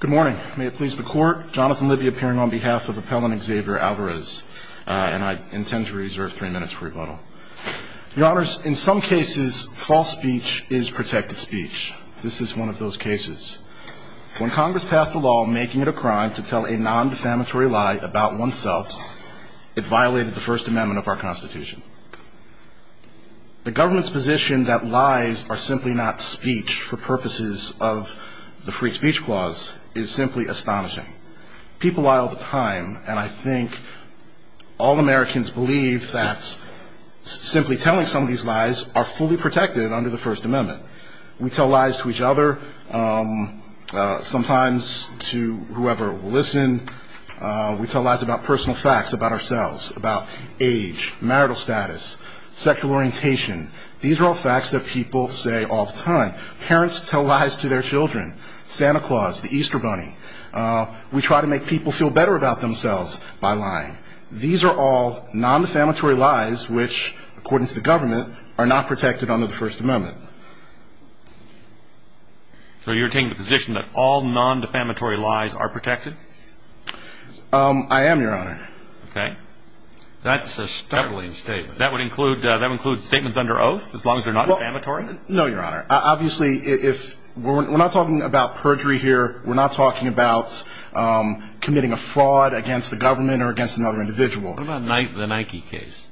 Good morning. May it please the court. Jonathan Libby appearing on behalf of appellant Xavier Alvarez. And I intend to reserve three minutes for rebuttal. Your honors, in some cases, false speech is protected speech. This is one of those cases. When Congress passed a law making it a crime to tell a non-defamatory lie about oneself, it violated the First Amendment of our Constitution. The government's position that lies are simply not speech for purposes of the non-defamatory speech clause is simply astonishing. People lie all the time, and I think all Americans believe that simply telling some of these lies are fully protected under the First Amendment. We tell lies to each other, sometimes to whoever will listen. We tell lies about personal facts about ourselves, about age, marital status, sexual orientation. These are all facts that people say all the time. Parents tell lies to their children, Santa Claus, the Easter Bunny. We try to make people feel better about themselves by lying. These are all non-defamatory lies which, according to the government, are not protected under the First Amendment. So you're taking the position that all non-defamatory lies are protected? I am, Your Honor. Okay. That's a stumbling statement. That would include statements under oath, as long as they're not defamatory? No, Your Honor. Obviously, we're not talking about perjury here. We're not talking about committing a fraud against the government or against another individual. What about the Nike case?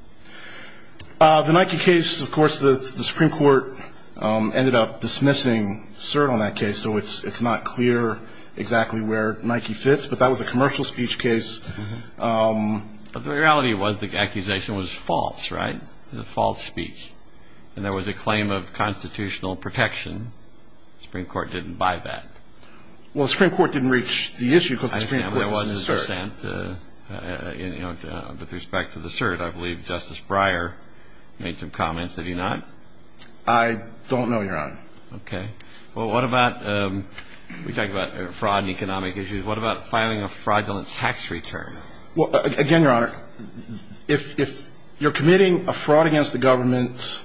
The Nike case, of course, the Supreme Court ended up dismissing cert on that case, so it's not clear exactly where Nike fits, but that was a commercial speech case. The reality was the accusation was false, right? It was a false speech, and there was a claim of constitutional protection. The Supreme Court didn't buy that. Well, the Supreme Court didn't reach the issue because the Supreme Court dismissed cert. I understand there wasn't a dissent with respect to the cert. I believe Justice Breyer made some comments. Did he not? I don't know, Your Honor. Okay. Well, what about, we talk about fraud and economic issues. What about filing a fraudulent tax return? Well, again, Your Honor, if you're committing a fraud against the government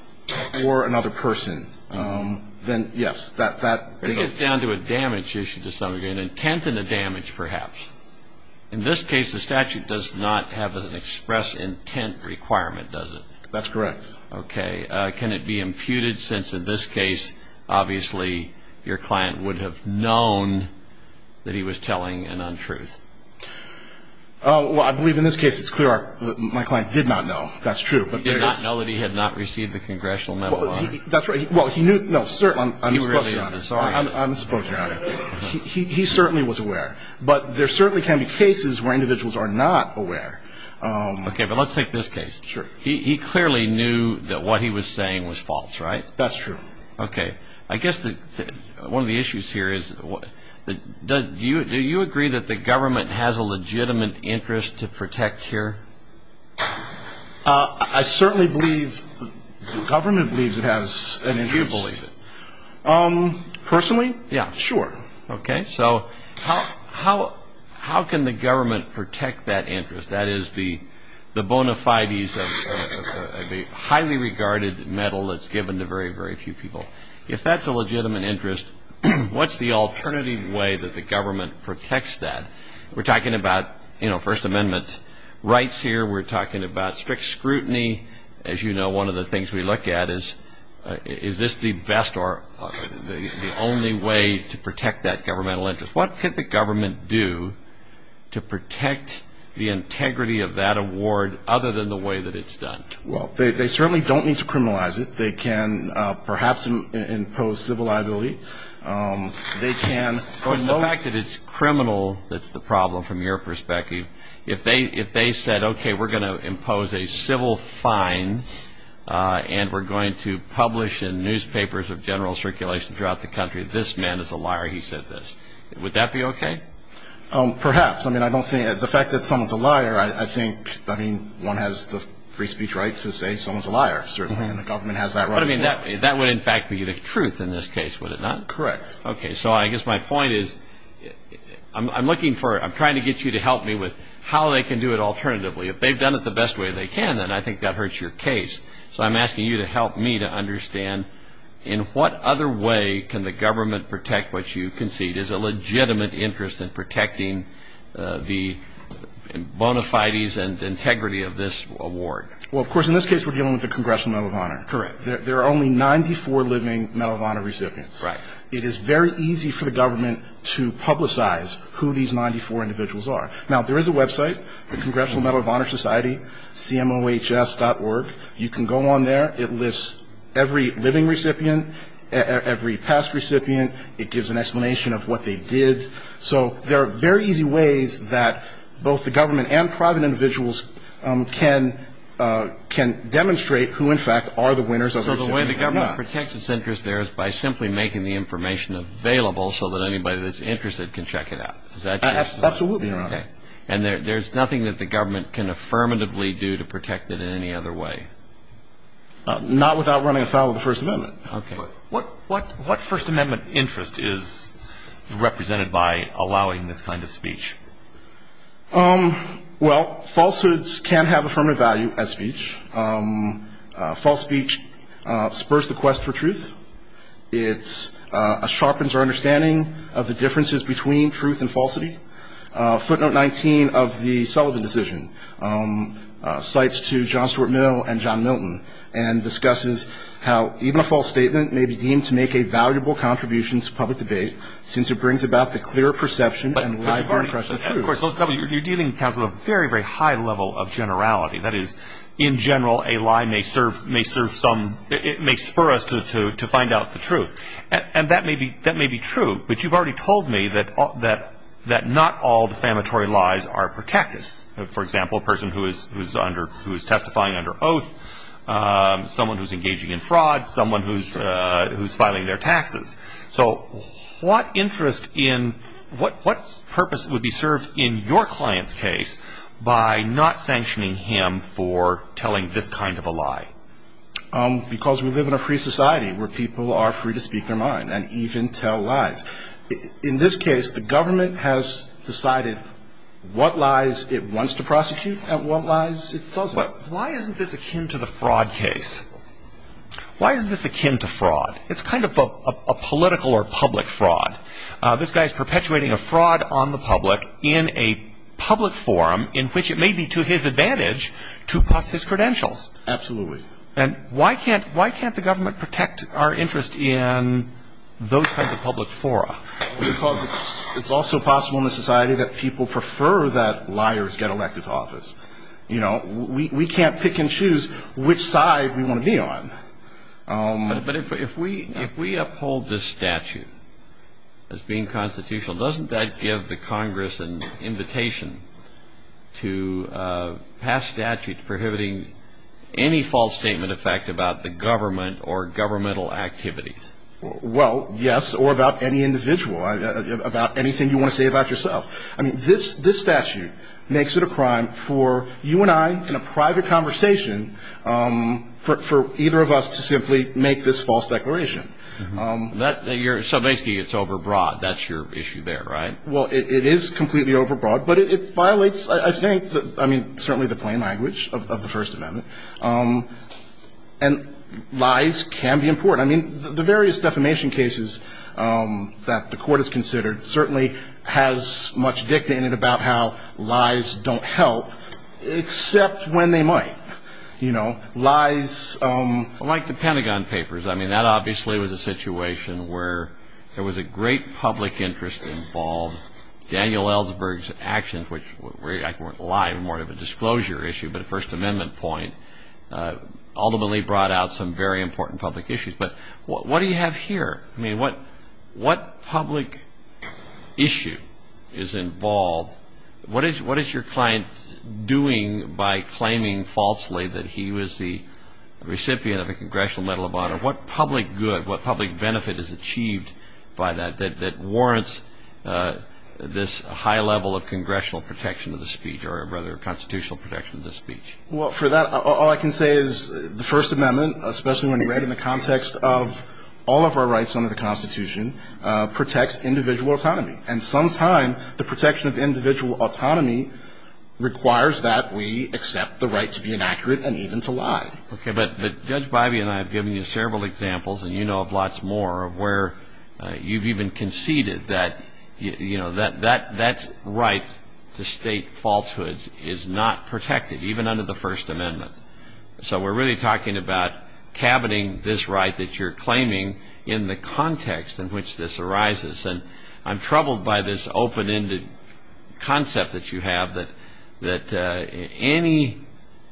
or another person, then, yes, that... This gets down to a damage issue to some degree, an intent and a damage perhaps. In this case, the statute does not have an express intent requirement, does it? That's correct. Okay. Can it be imputed, since in this case, obviously, your client would have known that he was telling an untruth? Well, I believe in this case, it's clear my client did not know. That's true. He did not know that he had not received the congressional medal of honor. That's right. Well, he knew... No, certainly, I'm just spoken on it. He really... I'm spoken on it. He certainly was aware. But there certainly can be cases where individuals are not aware. Okay. But let's take this case. Sure. He clearly knew that what he was saying was false, right? That's true. Okay. I guess one of the issues here is, do you agree that the government has a legitimate interest to protect here? I certainly believe the government believes it has an interest. And do you believe it? Personally? Yeah. Sure. Okay. So how can the government protect that interest? That is the bona fides of a highly regarded medal that's given to very, very few people. If that's a legitimate interest, what's the alternative way that the government protects that? We're talking about, you know, First Amendment rights here. We're talking about strict scrutiny. As you know, one of the things we look at is, is this the best or the only way to protect that governmental interest? What could the government do to protect the integrity of that award other than the way that it's done? Well, they certainly don't need to criminalize it. They can perhaps impose civil liability. The fact that it's criminal that's the problem from your perspective, if they said, okay, we're going to impose a civil fine and we're going to publish in newspapers of general circulation throughout the country, this man is a liar, he said this, would that be okay? Perhaps. I mean, I don't think, the fact that someone's a liar, I think, I mean, one has the free speech right to say someone's a liar, certainly, and the government has that right as well. But I mean, that would in fact be the truth in this case, would it not? Correct. Okay. So I guess my point is, I'm looking for, I'm trying to get you to help me with how they can do it alternatively. If they've done it the best way they can, then I think that hurts your case. So I'm asking you to help me to understand, in what other way can the government protect what you concede is a legitimate interest in protecting the bona fides and integrity of this award? Well, of course, in this case, we're dealing with the Congressional Medal of Honor. Correct. There are only 94 living Medal of Honor recipients. Right. It is very easy for the government to publicize who these 94 individuals are. Now, there is a website, the Congressional Medal of Honor Society, cmohs.org. You can go on there. It lists every living recipient, every past recipient. It gives an explanation of what they did. So there are very easy ways that both the government and private individuals can demonstrate who, in fact, are the winners of the recipient. So the way the government protects its interest there is by simply making the information available so that anybody that's interested can check it out. Is that true? Absolutely, Your Honor. Okay. And there's nothing that the government can affirmatively do to protect it in any other way? Not without running afoul of the First Amendment. Okay. What First Amendment interest is represented by allowing this kind of speech? Well, falsehoods can have affirmative value as speech. False speech spurs the quest for truth. It sharpens our understanding of the differences between truth and falsity. Footnote 19 of the Sullivan decision cites to John Stuart Milne and John Milton and discusses how even a false statement may be deemed to make a valuable contribution to public debate since it brings about the clear perception and live- Of course, you're dealing, counsel, with a very, very high level of generality. That is, in general, a lie may serve some, may spur us to find out the truth. And that may be true, but you've already told me that not all defamatory lies are protected. For example, a person who is testifying under oath, someone who's engaging in fraud, someone who's filing their taxes. So what interest in what purpose would be served in your client's case by not sanctioning him for telling this kind of a lie? Because we live in a free society where people are free to speak their mind and even tell lies. In this case, the government has decided what lies it wants to prosecute and what lies it doesn't. But why isn't this akin to the fraud case? Why isn't this akin to fraud? It's kind of a political or public fraud. This guy's perpetuating a fraud on the public in a public forum in which it may be to his advantage to puff his credentials. Absolutely. And why can't the government protect our interest in those kinds of public fora? Because it's also possible in this society that people prefer that liars get elected to office. You know, we can't pick and choose which side we want to be on. But if we uphold this statute as being constitutional, doesn't that give the government or governmental activities? Well, yes, or about any individual, about anything you want to say about yourself. I mean, this statute makes it a crime for you and I in a private conversation for either of us to simply make this false declaration. So basically it's overbroad. That's your issue there, right? Well, it is completely overbroad, but it violates, I think, I mean, certainly the plain language of the First Amendment. And lies can be important. I mean, the various defamation cases that the court has considered certainly has much dictated about how lies don't help, except when they might. You know, lies... Well, like the Pentagon Papers. I mean, that obviously was a situation where there was a great public interest involved. Daniel Ellsberg's actions, which weren't lies, more of a disclosure issue, but a First Amendment point, ultimately brought out some very important public issues. But what do you have here? I mean, what public issue is involved? What is your client doing by claiming falsely that he was the recipient of a Congressional Medal of Honor? What public good, what public benefit is achieved by that that warrants this high level of congressional protection of the speech, or rather constitutional protection of the speech? Well, for that, all I can say is the First Amendment, especially when you read it in the context of all of our rights under the Constitution, protects individual autonomy. And sometimes the protection of individual autonomy requires that we accept the right to be inaccurate and even to lie. Okay. But Judge Bivey and I have given you several examples, and you know of lots more, of where you've even conceded that, you know, that's right to state falsehoods is not protected, even under the First Amendment. So we're really talking about cabineting this right that you're claiming in the context in which this arises. And I'm troubled by this open-ended concept that you have, that any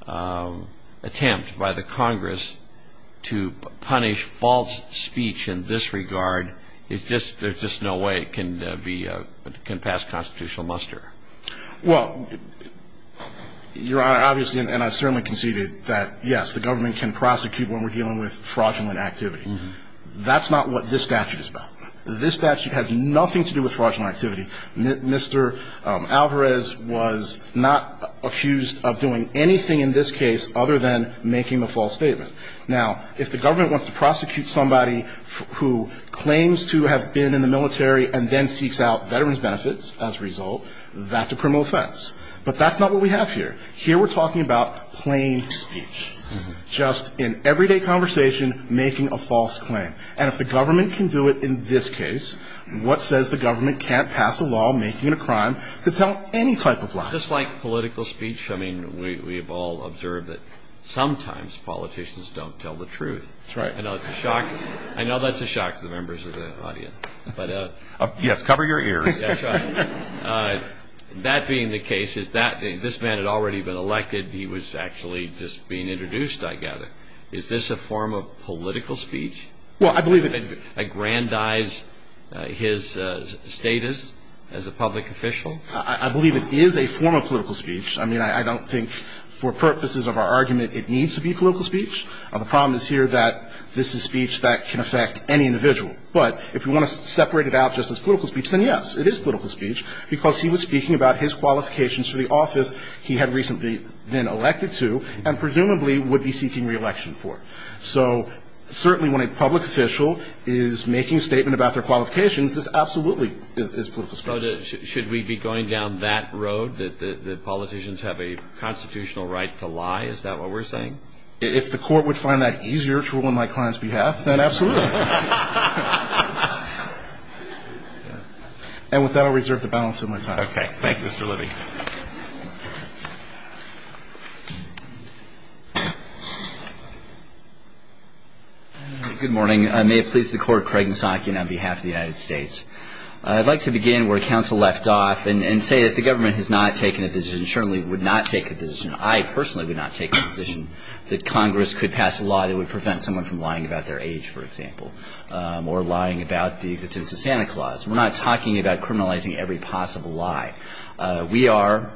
attempt by the Congress to punish false speech in this regard, there's just no way it can pass constitutional muster. Well, Your Honor, obviously, and I certainly conceded that, yes, the government can prosecute when we're dealing with fraudulent activity. That's not what this statute is about. This statute has nothing to do with fraudulent activity. Mr. Alvarez was not accused of doing anything in this case other than making a false statement. Now, if the government wants to prosecute somebody who claims to have been in the But that's not what we have here. Here we're talking about plain speech, just in everyday conversation, making a false claim. And if the government can do it in this case, what says the government can't pass a law making it a crime to tell any type of lie? Just like political speech, I mean, we've all observed that sometimes politicians don't tell the truth. That's right. I know it's a shock. I know that's a shock to the members of the audience. Yes, cover your ears. That's right. That being the case, is that this man had already been elected. He was actually just being introduced, I gather. Is this a form of political speech? Well, I believe it is. To aggrandize his status as a public official? I believe it is a form of political speech. I mean, I don't think for purposes of our argument it needs to be political speech. The problem is here that this is speech that can affect any individual. But if you want to separate it out just as political speech, then yes, it is political speech, because he was speaking about his qualifications for the office he had recently been elected to, and presumably would be seeking reelection for. So certainly when a public official is making a statement about their qualifications, this absolutely is political speech. So should we be going down that road, that the politicians have a constitutional right to lie? Is that what we're saying? If the Court would find that easier to rule on my client's behalf, then absolutely. And with that, I'll reserve the balance of my time. Okay. Thank you. Mr. Libby. Good morning. May it please the Court, Craig Nisankian on behalf of the United States. I'd like to begin where counsel left off and say that the government has not taken a position, and certainly would not take a position, I personally would not take a position, that Congress could pass a law that would prevent someone from lying about their age, for example. Or lying about the existence of Santa Claus. We're not talking about criminalizing every possible lie. We are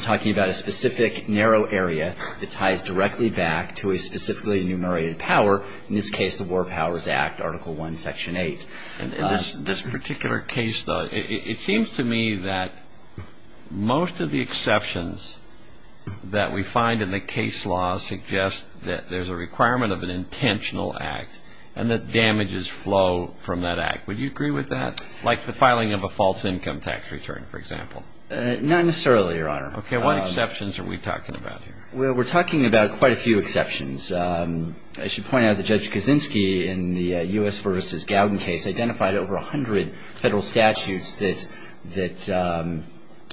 talking about a specific narrow area that ties directly back to a specifically enumerated power, in this case the War Powers Act, Article I, Section 8. In this particular case, though, it seems to me that most of the exceptions that we find in the case law suggest that there's a requirement of an intentional act, and that damages flow from that act. Would you agree with that? Like the filing of a false income tax return, for example. Not necessarily, Your Honor. Okay. What exceptions are we talking about here? Well, we're talking about quite a few exceptions. I should point out that Judge Kaczynski, in the U.S. versus Gowden case, identified over 100 federal statutes that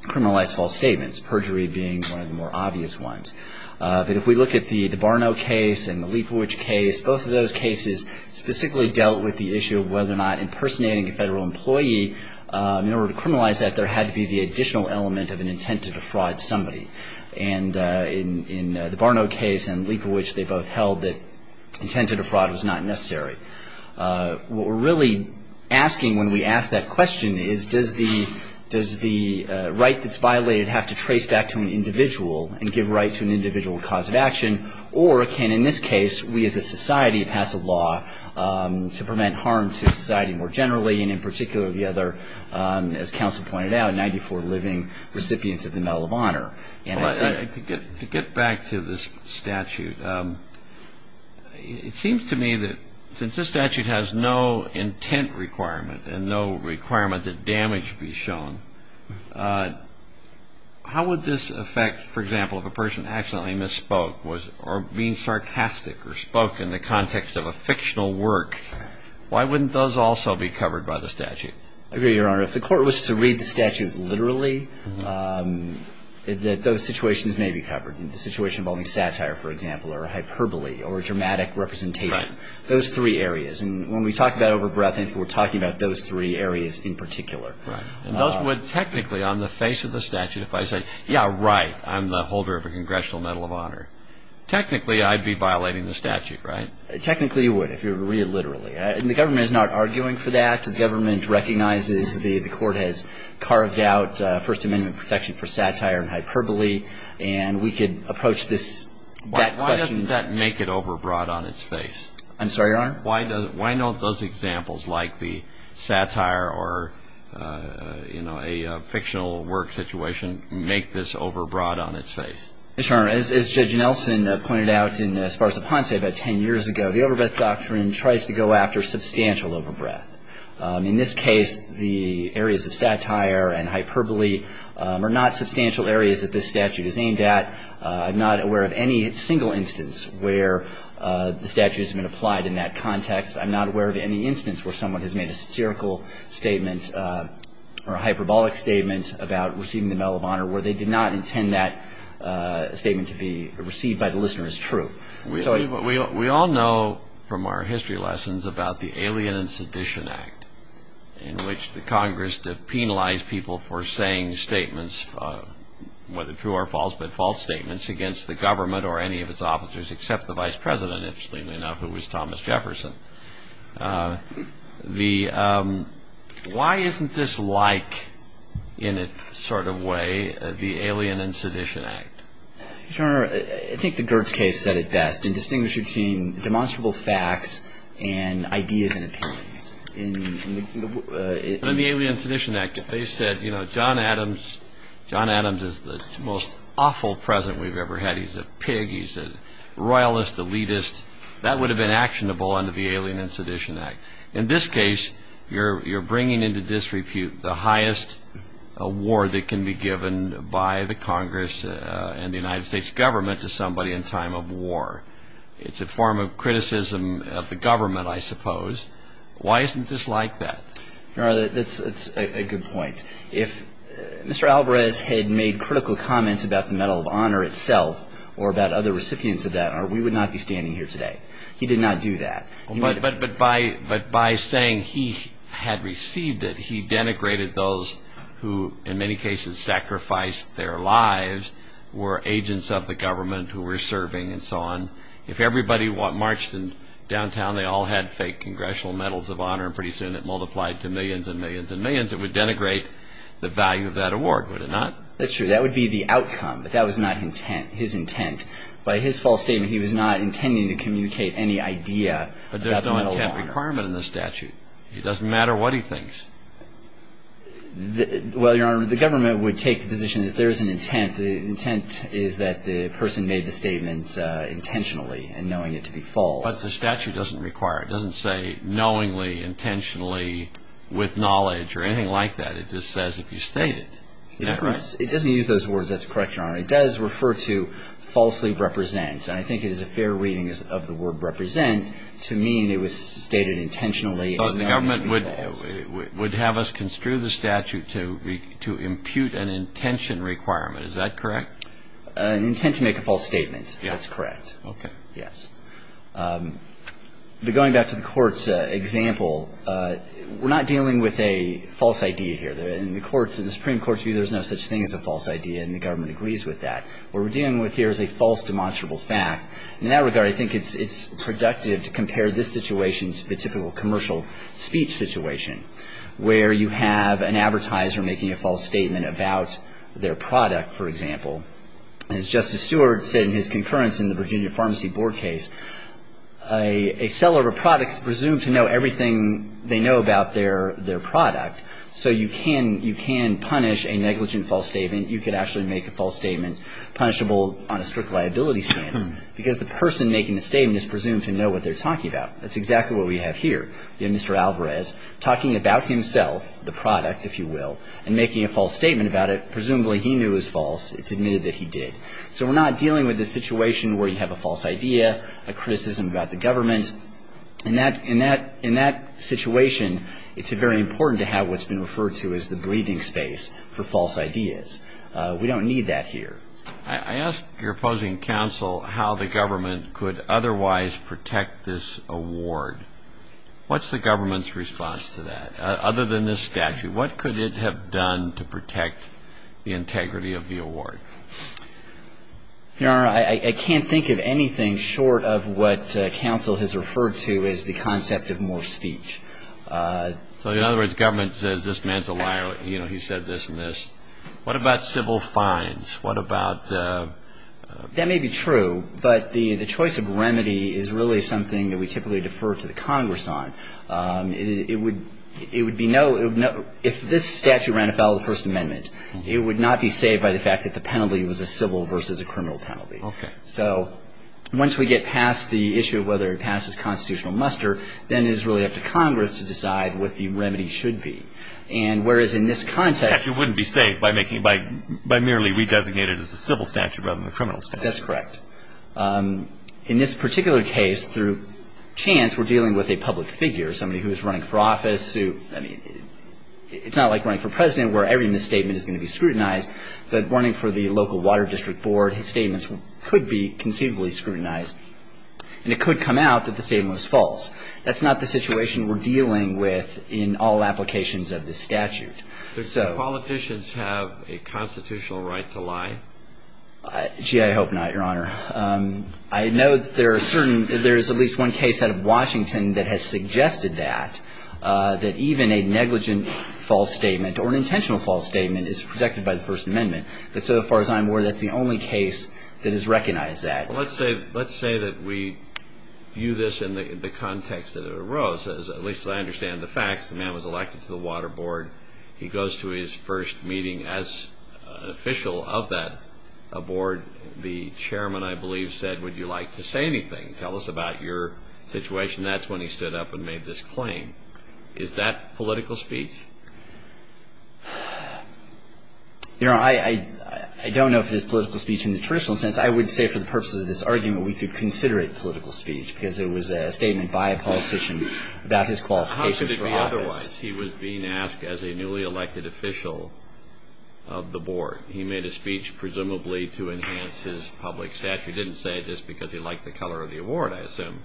criminalize false statements, perjury being one of the more obvious ones. But if we look at the Barnault case and the Leibovitz case, both of those cases specifically dealt with the issue of whether or not impersonating a federal employee, in order to criminalize that, there had to be the additional element of an intent to defraud somebody. And in the Barnault case and Leibovitz, they both held that intent to defraud was not necessary. What we're really asking when we ask that question is, does the right that's an individual cause of action, or can, in this case, we as a society pass a law to prevent harm to society more generally, and in particular the other, as counsel pointed out, 94 living recipients of the Medal of Honor? To get back to this statute, it seems to me that since this statute has no intent requirement and no requirement that damage be shown, how would this affect, for example, if a person accidentally misspoke or being sarcastic or spoke in the context of a fictional work? Why wouldn't those also be covered by the statute? I agree, Your Honor. If the court was to read the statute literally, those situations may be covered. The situation involving satire, for example, or hyperbole or dramatic representation. Right. Those three areas. And when we talk about overbreadth, we're talking about those three areas in particular. Right. And those would technically, on the face of the statute, if I say, yeah, right, I'm the holder of a Congressional Medal of Honor, technically I'd be violating the statute, right? Technically you would if you were to read it literally. And the government is not arguing for that. The government recognizes the court has carved out First Amendment protection for satire and hyperbole, and we could approach this question. I'm sorry, Your Honor? Why don't those examples, like the satire or, you know, a fictional work situation, make this overbroad on its face? Your Honor, as Judge Nelson pointed out in Spars A Ponce about ten years ago, the overbreadth doctrine tries to go after substantial overbreadth. In this case, the areas of satire and hyperbole are not substantial areas that this statute is aimed at. I'm not aware of any single instance where the statute has been applied in that context. I'm not aware of any instance where someone has made a satirical statement or a hyperbolic statement about receiving the Medal of Honor where they did not intend that statement to be received by the listener as true. We all know from our history lessons about the Alien and Sedition Act in which the Congress penalized people for saying statements, whether true or false, but the Congress penalized people for saying statements against the government or any of its officers except the Vice President, interestingly enough, who was Thomas Jefferson. The why isn't this like in a sort of way the Alien and Sedition Act? Your Honor, I think the Gertz case said it best in distinguishing between demonstrable facts and ideas and opinions. In the Alien and Sedition Act, they said, you know, John Adams is the most awful president we've ever had. He's a pig. He's a royalist elitist. That would have been actionable under the Alien and Sedition Act. In this case, you're bringing into disrepute the highest award that can be given by the Congress and the United States government to somebody in time of war. It's a form of criticism of the government, I suppose. Why isn't this like that? Your Honor, that's a good point. If Mr. Alvarez had made critical comments about the Medal of Honor itself or about other recipients of that, we would not be standing here today. He did not do that. But by saying he had received it, he denigrated those who, in many cases, sacrificed their lives, were agents of the government who were serving and so on. If everybody marched in downtown, they all had fake congressional medals of honor, and pretty soon it multiplied to millions and millions and millions, it would denigrate the value of that award, would it not? That's true. That would be the outcome. But that was not his intent. By his false statement, he was not intending to communicate any idea about the Medal of Honor. But there's no intent requirement in the statute. It doesn't matter what he thinks. Well, Your Honor, the government would take the position that there is an intent. The intent is that the person made the statement intentionally and knowing it to be false. But the statute doesn't require it. It doesn't say knowingly, intentionally, with knowledge or anything like that. It just says if you state it. It doesn't use those words that's correct, Your Honor. It does refer to falsely represent, and I think it is a fair reading of the word represent to mean it was stated intentionally. So the government would have us construe the statute to impute an intention requirement. Is that correct? An intent to make a false statement. Yes. That's correct. Okay. Yes. But going back to the Court's example, we're not dealing with a false idea here. In the Supreme Court's view, there's no such thing as a false idea, and the government agrees with that. What we're dealing with here is a false demonstrable fact. In that regard, I think it's productive to compare this situation to the typical commercial speech situation where you have an advertiser making a false statement about their product, for example. As Justice Stewart said in his concurrence in the Virginia Pharmacy Board case, a seller of a product is presumed to know everything they know about their product. So you can punish a negligent false statement. You could actually make a false statement punishable on a strict liability standard because the person making the statement is presumed to know what they're talking about. That's exactly what we have here. We have Mr. Alvarez talking about himself, the product, if you will, and making a false statement about it. Presumably he knew it was false. It's admitted that he did. So we're not dealing with a situation where you have a false idea, a criticism about the government. And in that situation, it's very important to have what's been referred to as the breathing space for false ideas. We don't need that here. I ask your opposing counsel how the government could otherwise protect this award. What's the government's response to that? Other than this statute, what could it have done to protect the integrity of the award? Your Honor, I can't think of anything short of what counsel has referred to as the concept of more speech. So in other words, government says this man's a liar. You know, he said this and this. What about civil fines? What about the ---- That may be true, but the choice of remedy is really something that we typically defer to the Congress on. It would be no ---- if this statute ran afoul of the First Amendment, it would not be saved by the fact that the penalty was a civil versus a criminal penalty. Okay. So once we get past the issue of whether it passes constitutional muster, then it is really up to Congress to decide what the remedy should be. And whereas in this context ---- The statute wouldn't be saved by making it by merely re-designated as a civil statute rather than a criminal statute. That's correct. In this particular case, through chance, we're dealing with a public figure, somebody who is running for office. I mean, it's not like running for president where every misstatement is going to be scrutinized. But running for the local water district board, his statements could be conceivably scrutinized. And it could come out that the statement was false. That's not the situation we're dealing with in all applications of this statute. So ---- Do politicians have a constitutional right to lie? Gee, I hope not, Your Honor. I know there are certain ---- there is at least one case out of Washington that has suggested that, that even a negligent false statement or an intentional false statement is protected by the First Amendment. But so far as I'm aware, that's the only case that has recognized that. Well, let's say that we view this in the context that it arose. At least as I understand the facts, the man was elected to the water board. He goes to his first meeting as an official of that board. The chairman, I believe, said, would you like to say anything? Tell us about your situation. That's when he stood up and made this claim. Is that political speech? Your Honor, I don't know if it is political speech in the traditional sense. I would say for the purposes of this argument, we could consider it political speech because it was a statement by a politician about his qualifications for office. I realize he was being asked as a newly elected official of the board. He made a speech presumably to enhance his public stature. He didn't say it just because he liked the color of the award, I assume.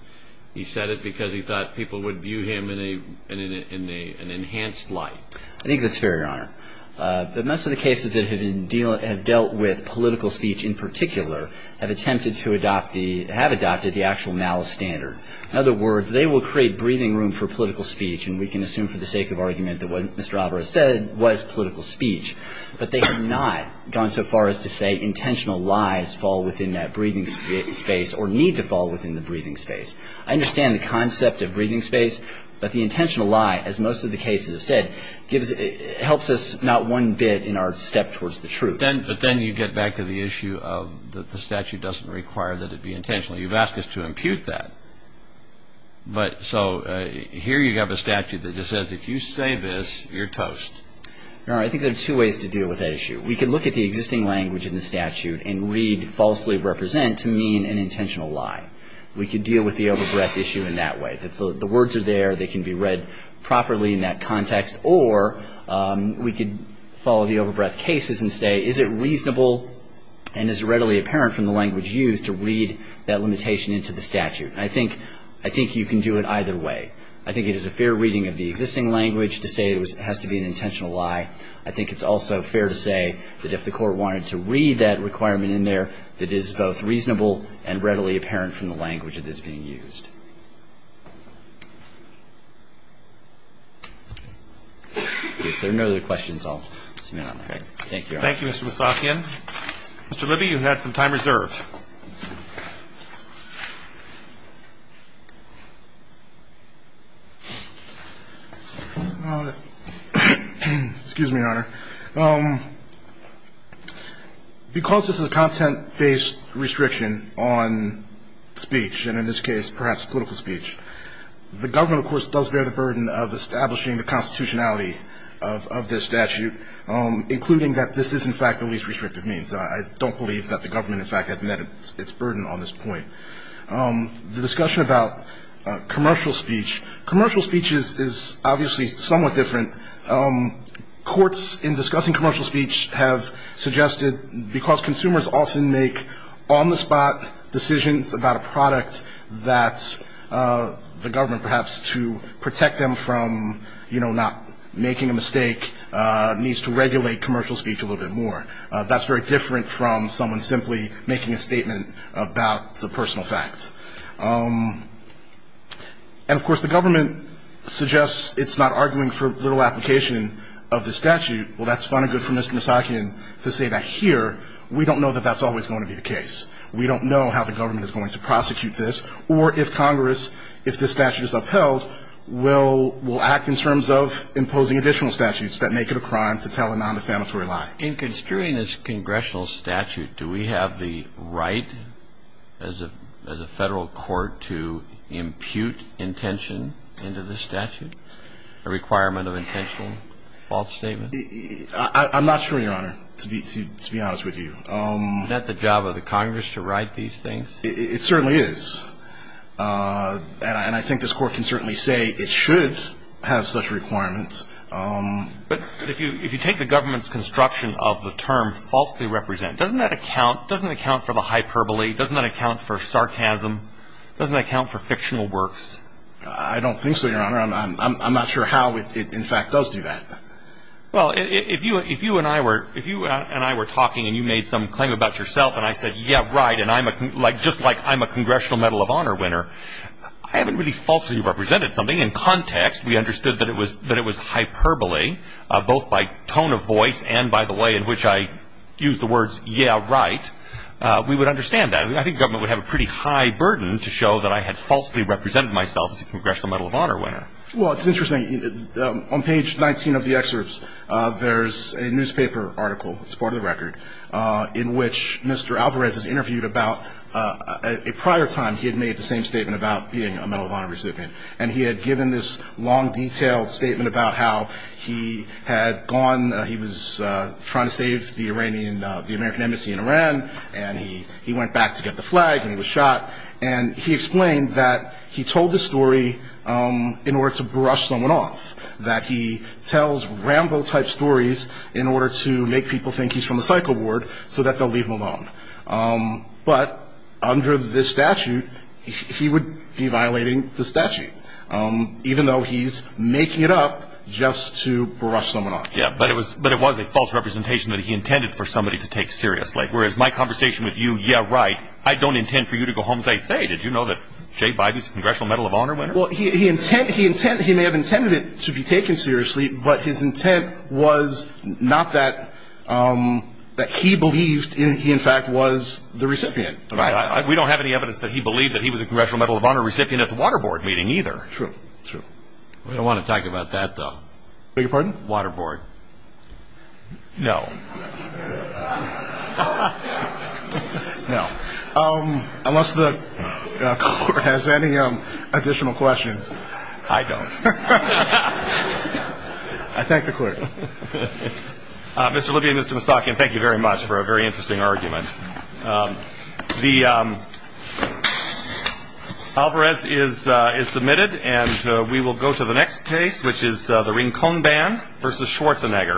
He said it because he thought people would view him in an enhanced light. I think that's fair, Your Honor. But most of the cases that have dealt with political speech in particular have attempted to adopt the ---- have adopted the actual malice standard. In other words, they will create breathing room for political speech, and we can assume for the sake of argument that what Mr. Alvarez said was political speech. But they have not gone so far as to say intentional lies fall within that breathing space or need to fall within the breathing space. I understand the concept of breathing space, but the intentional lie, as most of the cases have said, helps us not one bit in our step towards the truth. But then you get back to the issue of the statute doesn't require that it be intentional. You've asked us to impute that. But so here you have a statute that just says if you say this, you're toast. Your Honor, I think there are two ways to deal with that issue. We could look at the existing language in the statute and read falsely represent to mean an intentional lie. We could deal with the over-breath issue in that way, that the words are there, they can be read properly in that context, or we could follow the over-breath cases and say is it reasonable and is it readily apparent from the language used to read that limitation into the statute. I think you can do it either way. I think it is a fair reading of the existing language to say it has to be an intentional lie. I think it's also fair to say that if the Court wanted to read that requirement in there, that it is both reasonable and readily apparent from the language that is being used. If there are no other questions, I'll submit on that. Thank you, Your Honor. Thank you, Mr. Mousakian. Mr. Libby, you've had some time reserved. Excuse me, Your Honor. Because this is a content-based restriction on speech, and in this case perhaps political speech, the government, of course, does bear the burden of establishing the constitutionality of this statute, including that this is, in fact, the least restrictive means. I don't believe that the government, in fact, has met its burden on this point. The discussion about commercial speech, commercial speech is obviously somewhat different. Courts in discussing commercial speech have suggested because consumers often make on-the-spot decisions about a product that the government, perhaps to protect them from, you know, not making a mistake, needs to regulate commercial speech a little bit more. That's very different from someone simply making a statement about a personal fact. And, of course, the government suggests it's not arguing for literal application of the statute. Well, that's fun and good for Mr. Mousakian to say that here we don't know that that's always going to be the case. We don't know how the government is going to prosecute this, or if Congress, if this statute is upheld, will act in terms of imposing additional statutes that make it a crime to tell a nondefamatory lie. In construing this congressional statute, do we have the right as a Federal court to impute intention into the statute, a requirement of intentional false statement? I'm not sure, Your Honor, to be honest with you. Isn't that the job of the Congress to write these things? It certainly is. And I think this Court can certainly say it should have such requirements. But if you take the government's construction of the term falsely represent, doesn't that account for the hyperbole? Doesn't that account for sarcasm? Doesn't that account for fictional works? I don't think so, Your Honor. I'm not sure how it, in fact, does do that. Well, if you and I were talking and you made some claim about yourself and I said, yeah, right, and just like I'm a Congressional Medal of Honor winner, I haven't really falsely represented something. In context, we understood that it was hyperbole, both by tone of voice and by the way in which I used the words, yeah, right, we would understand that. I think the government would have a pretty high burden to show that I had falsely represented myself as a Congressional Medal of Honor winner. Well, it's interesting. On page 19 of the excerpts, there's a newspaper article, it's part of the record, in which Mr. Alvarez is interviewed about a prior time he had made the same statement about being a Medal of Honor recipient. And he had given this long, detailed statement about how he had gone, he was trying to save the Iranian, the American Embassy in Iran, and he went back to get the flag and he was shot. And he explained that he told this story in order to brush someone off, that he tells Rambo-type stories in order to make people think he's from the psycho ward so that they'll leave him alone. But under this statute, he would be violating the statute, even though he's making it up just to brush someone off. Yeah, but it was a false representation that he intended for somebody to take seriously, whereas my conversation with you, yeah, right, I don't intend for you to go home and say, say, did you know that Jay Biden's a Congressional Medal of Honor winner? Well, he may have intended it to be taken seriously, but his intent was not that he believed he, in fact, was the recipient. Right. We don't have any evidence that he believed that he was a Congressional Medal of Honor recipient at the Water Board meeting either. True. True. I don't want to talk about that, though. Beg your pardon? Water Board. No. No. Unless the Court has any additional questions. I don't. I thank the Court. Mr. Libby and Mr. Mussockian, thank you very much for a very interesting argument. The alvarez is submitted, and we will go to the next case, which is the Rincon Ban v. Schwartzman. Mr. Schwarzenegger.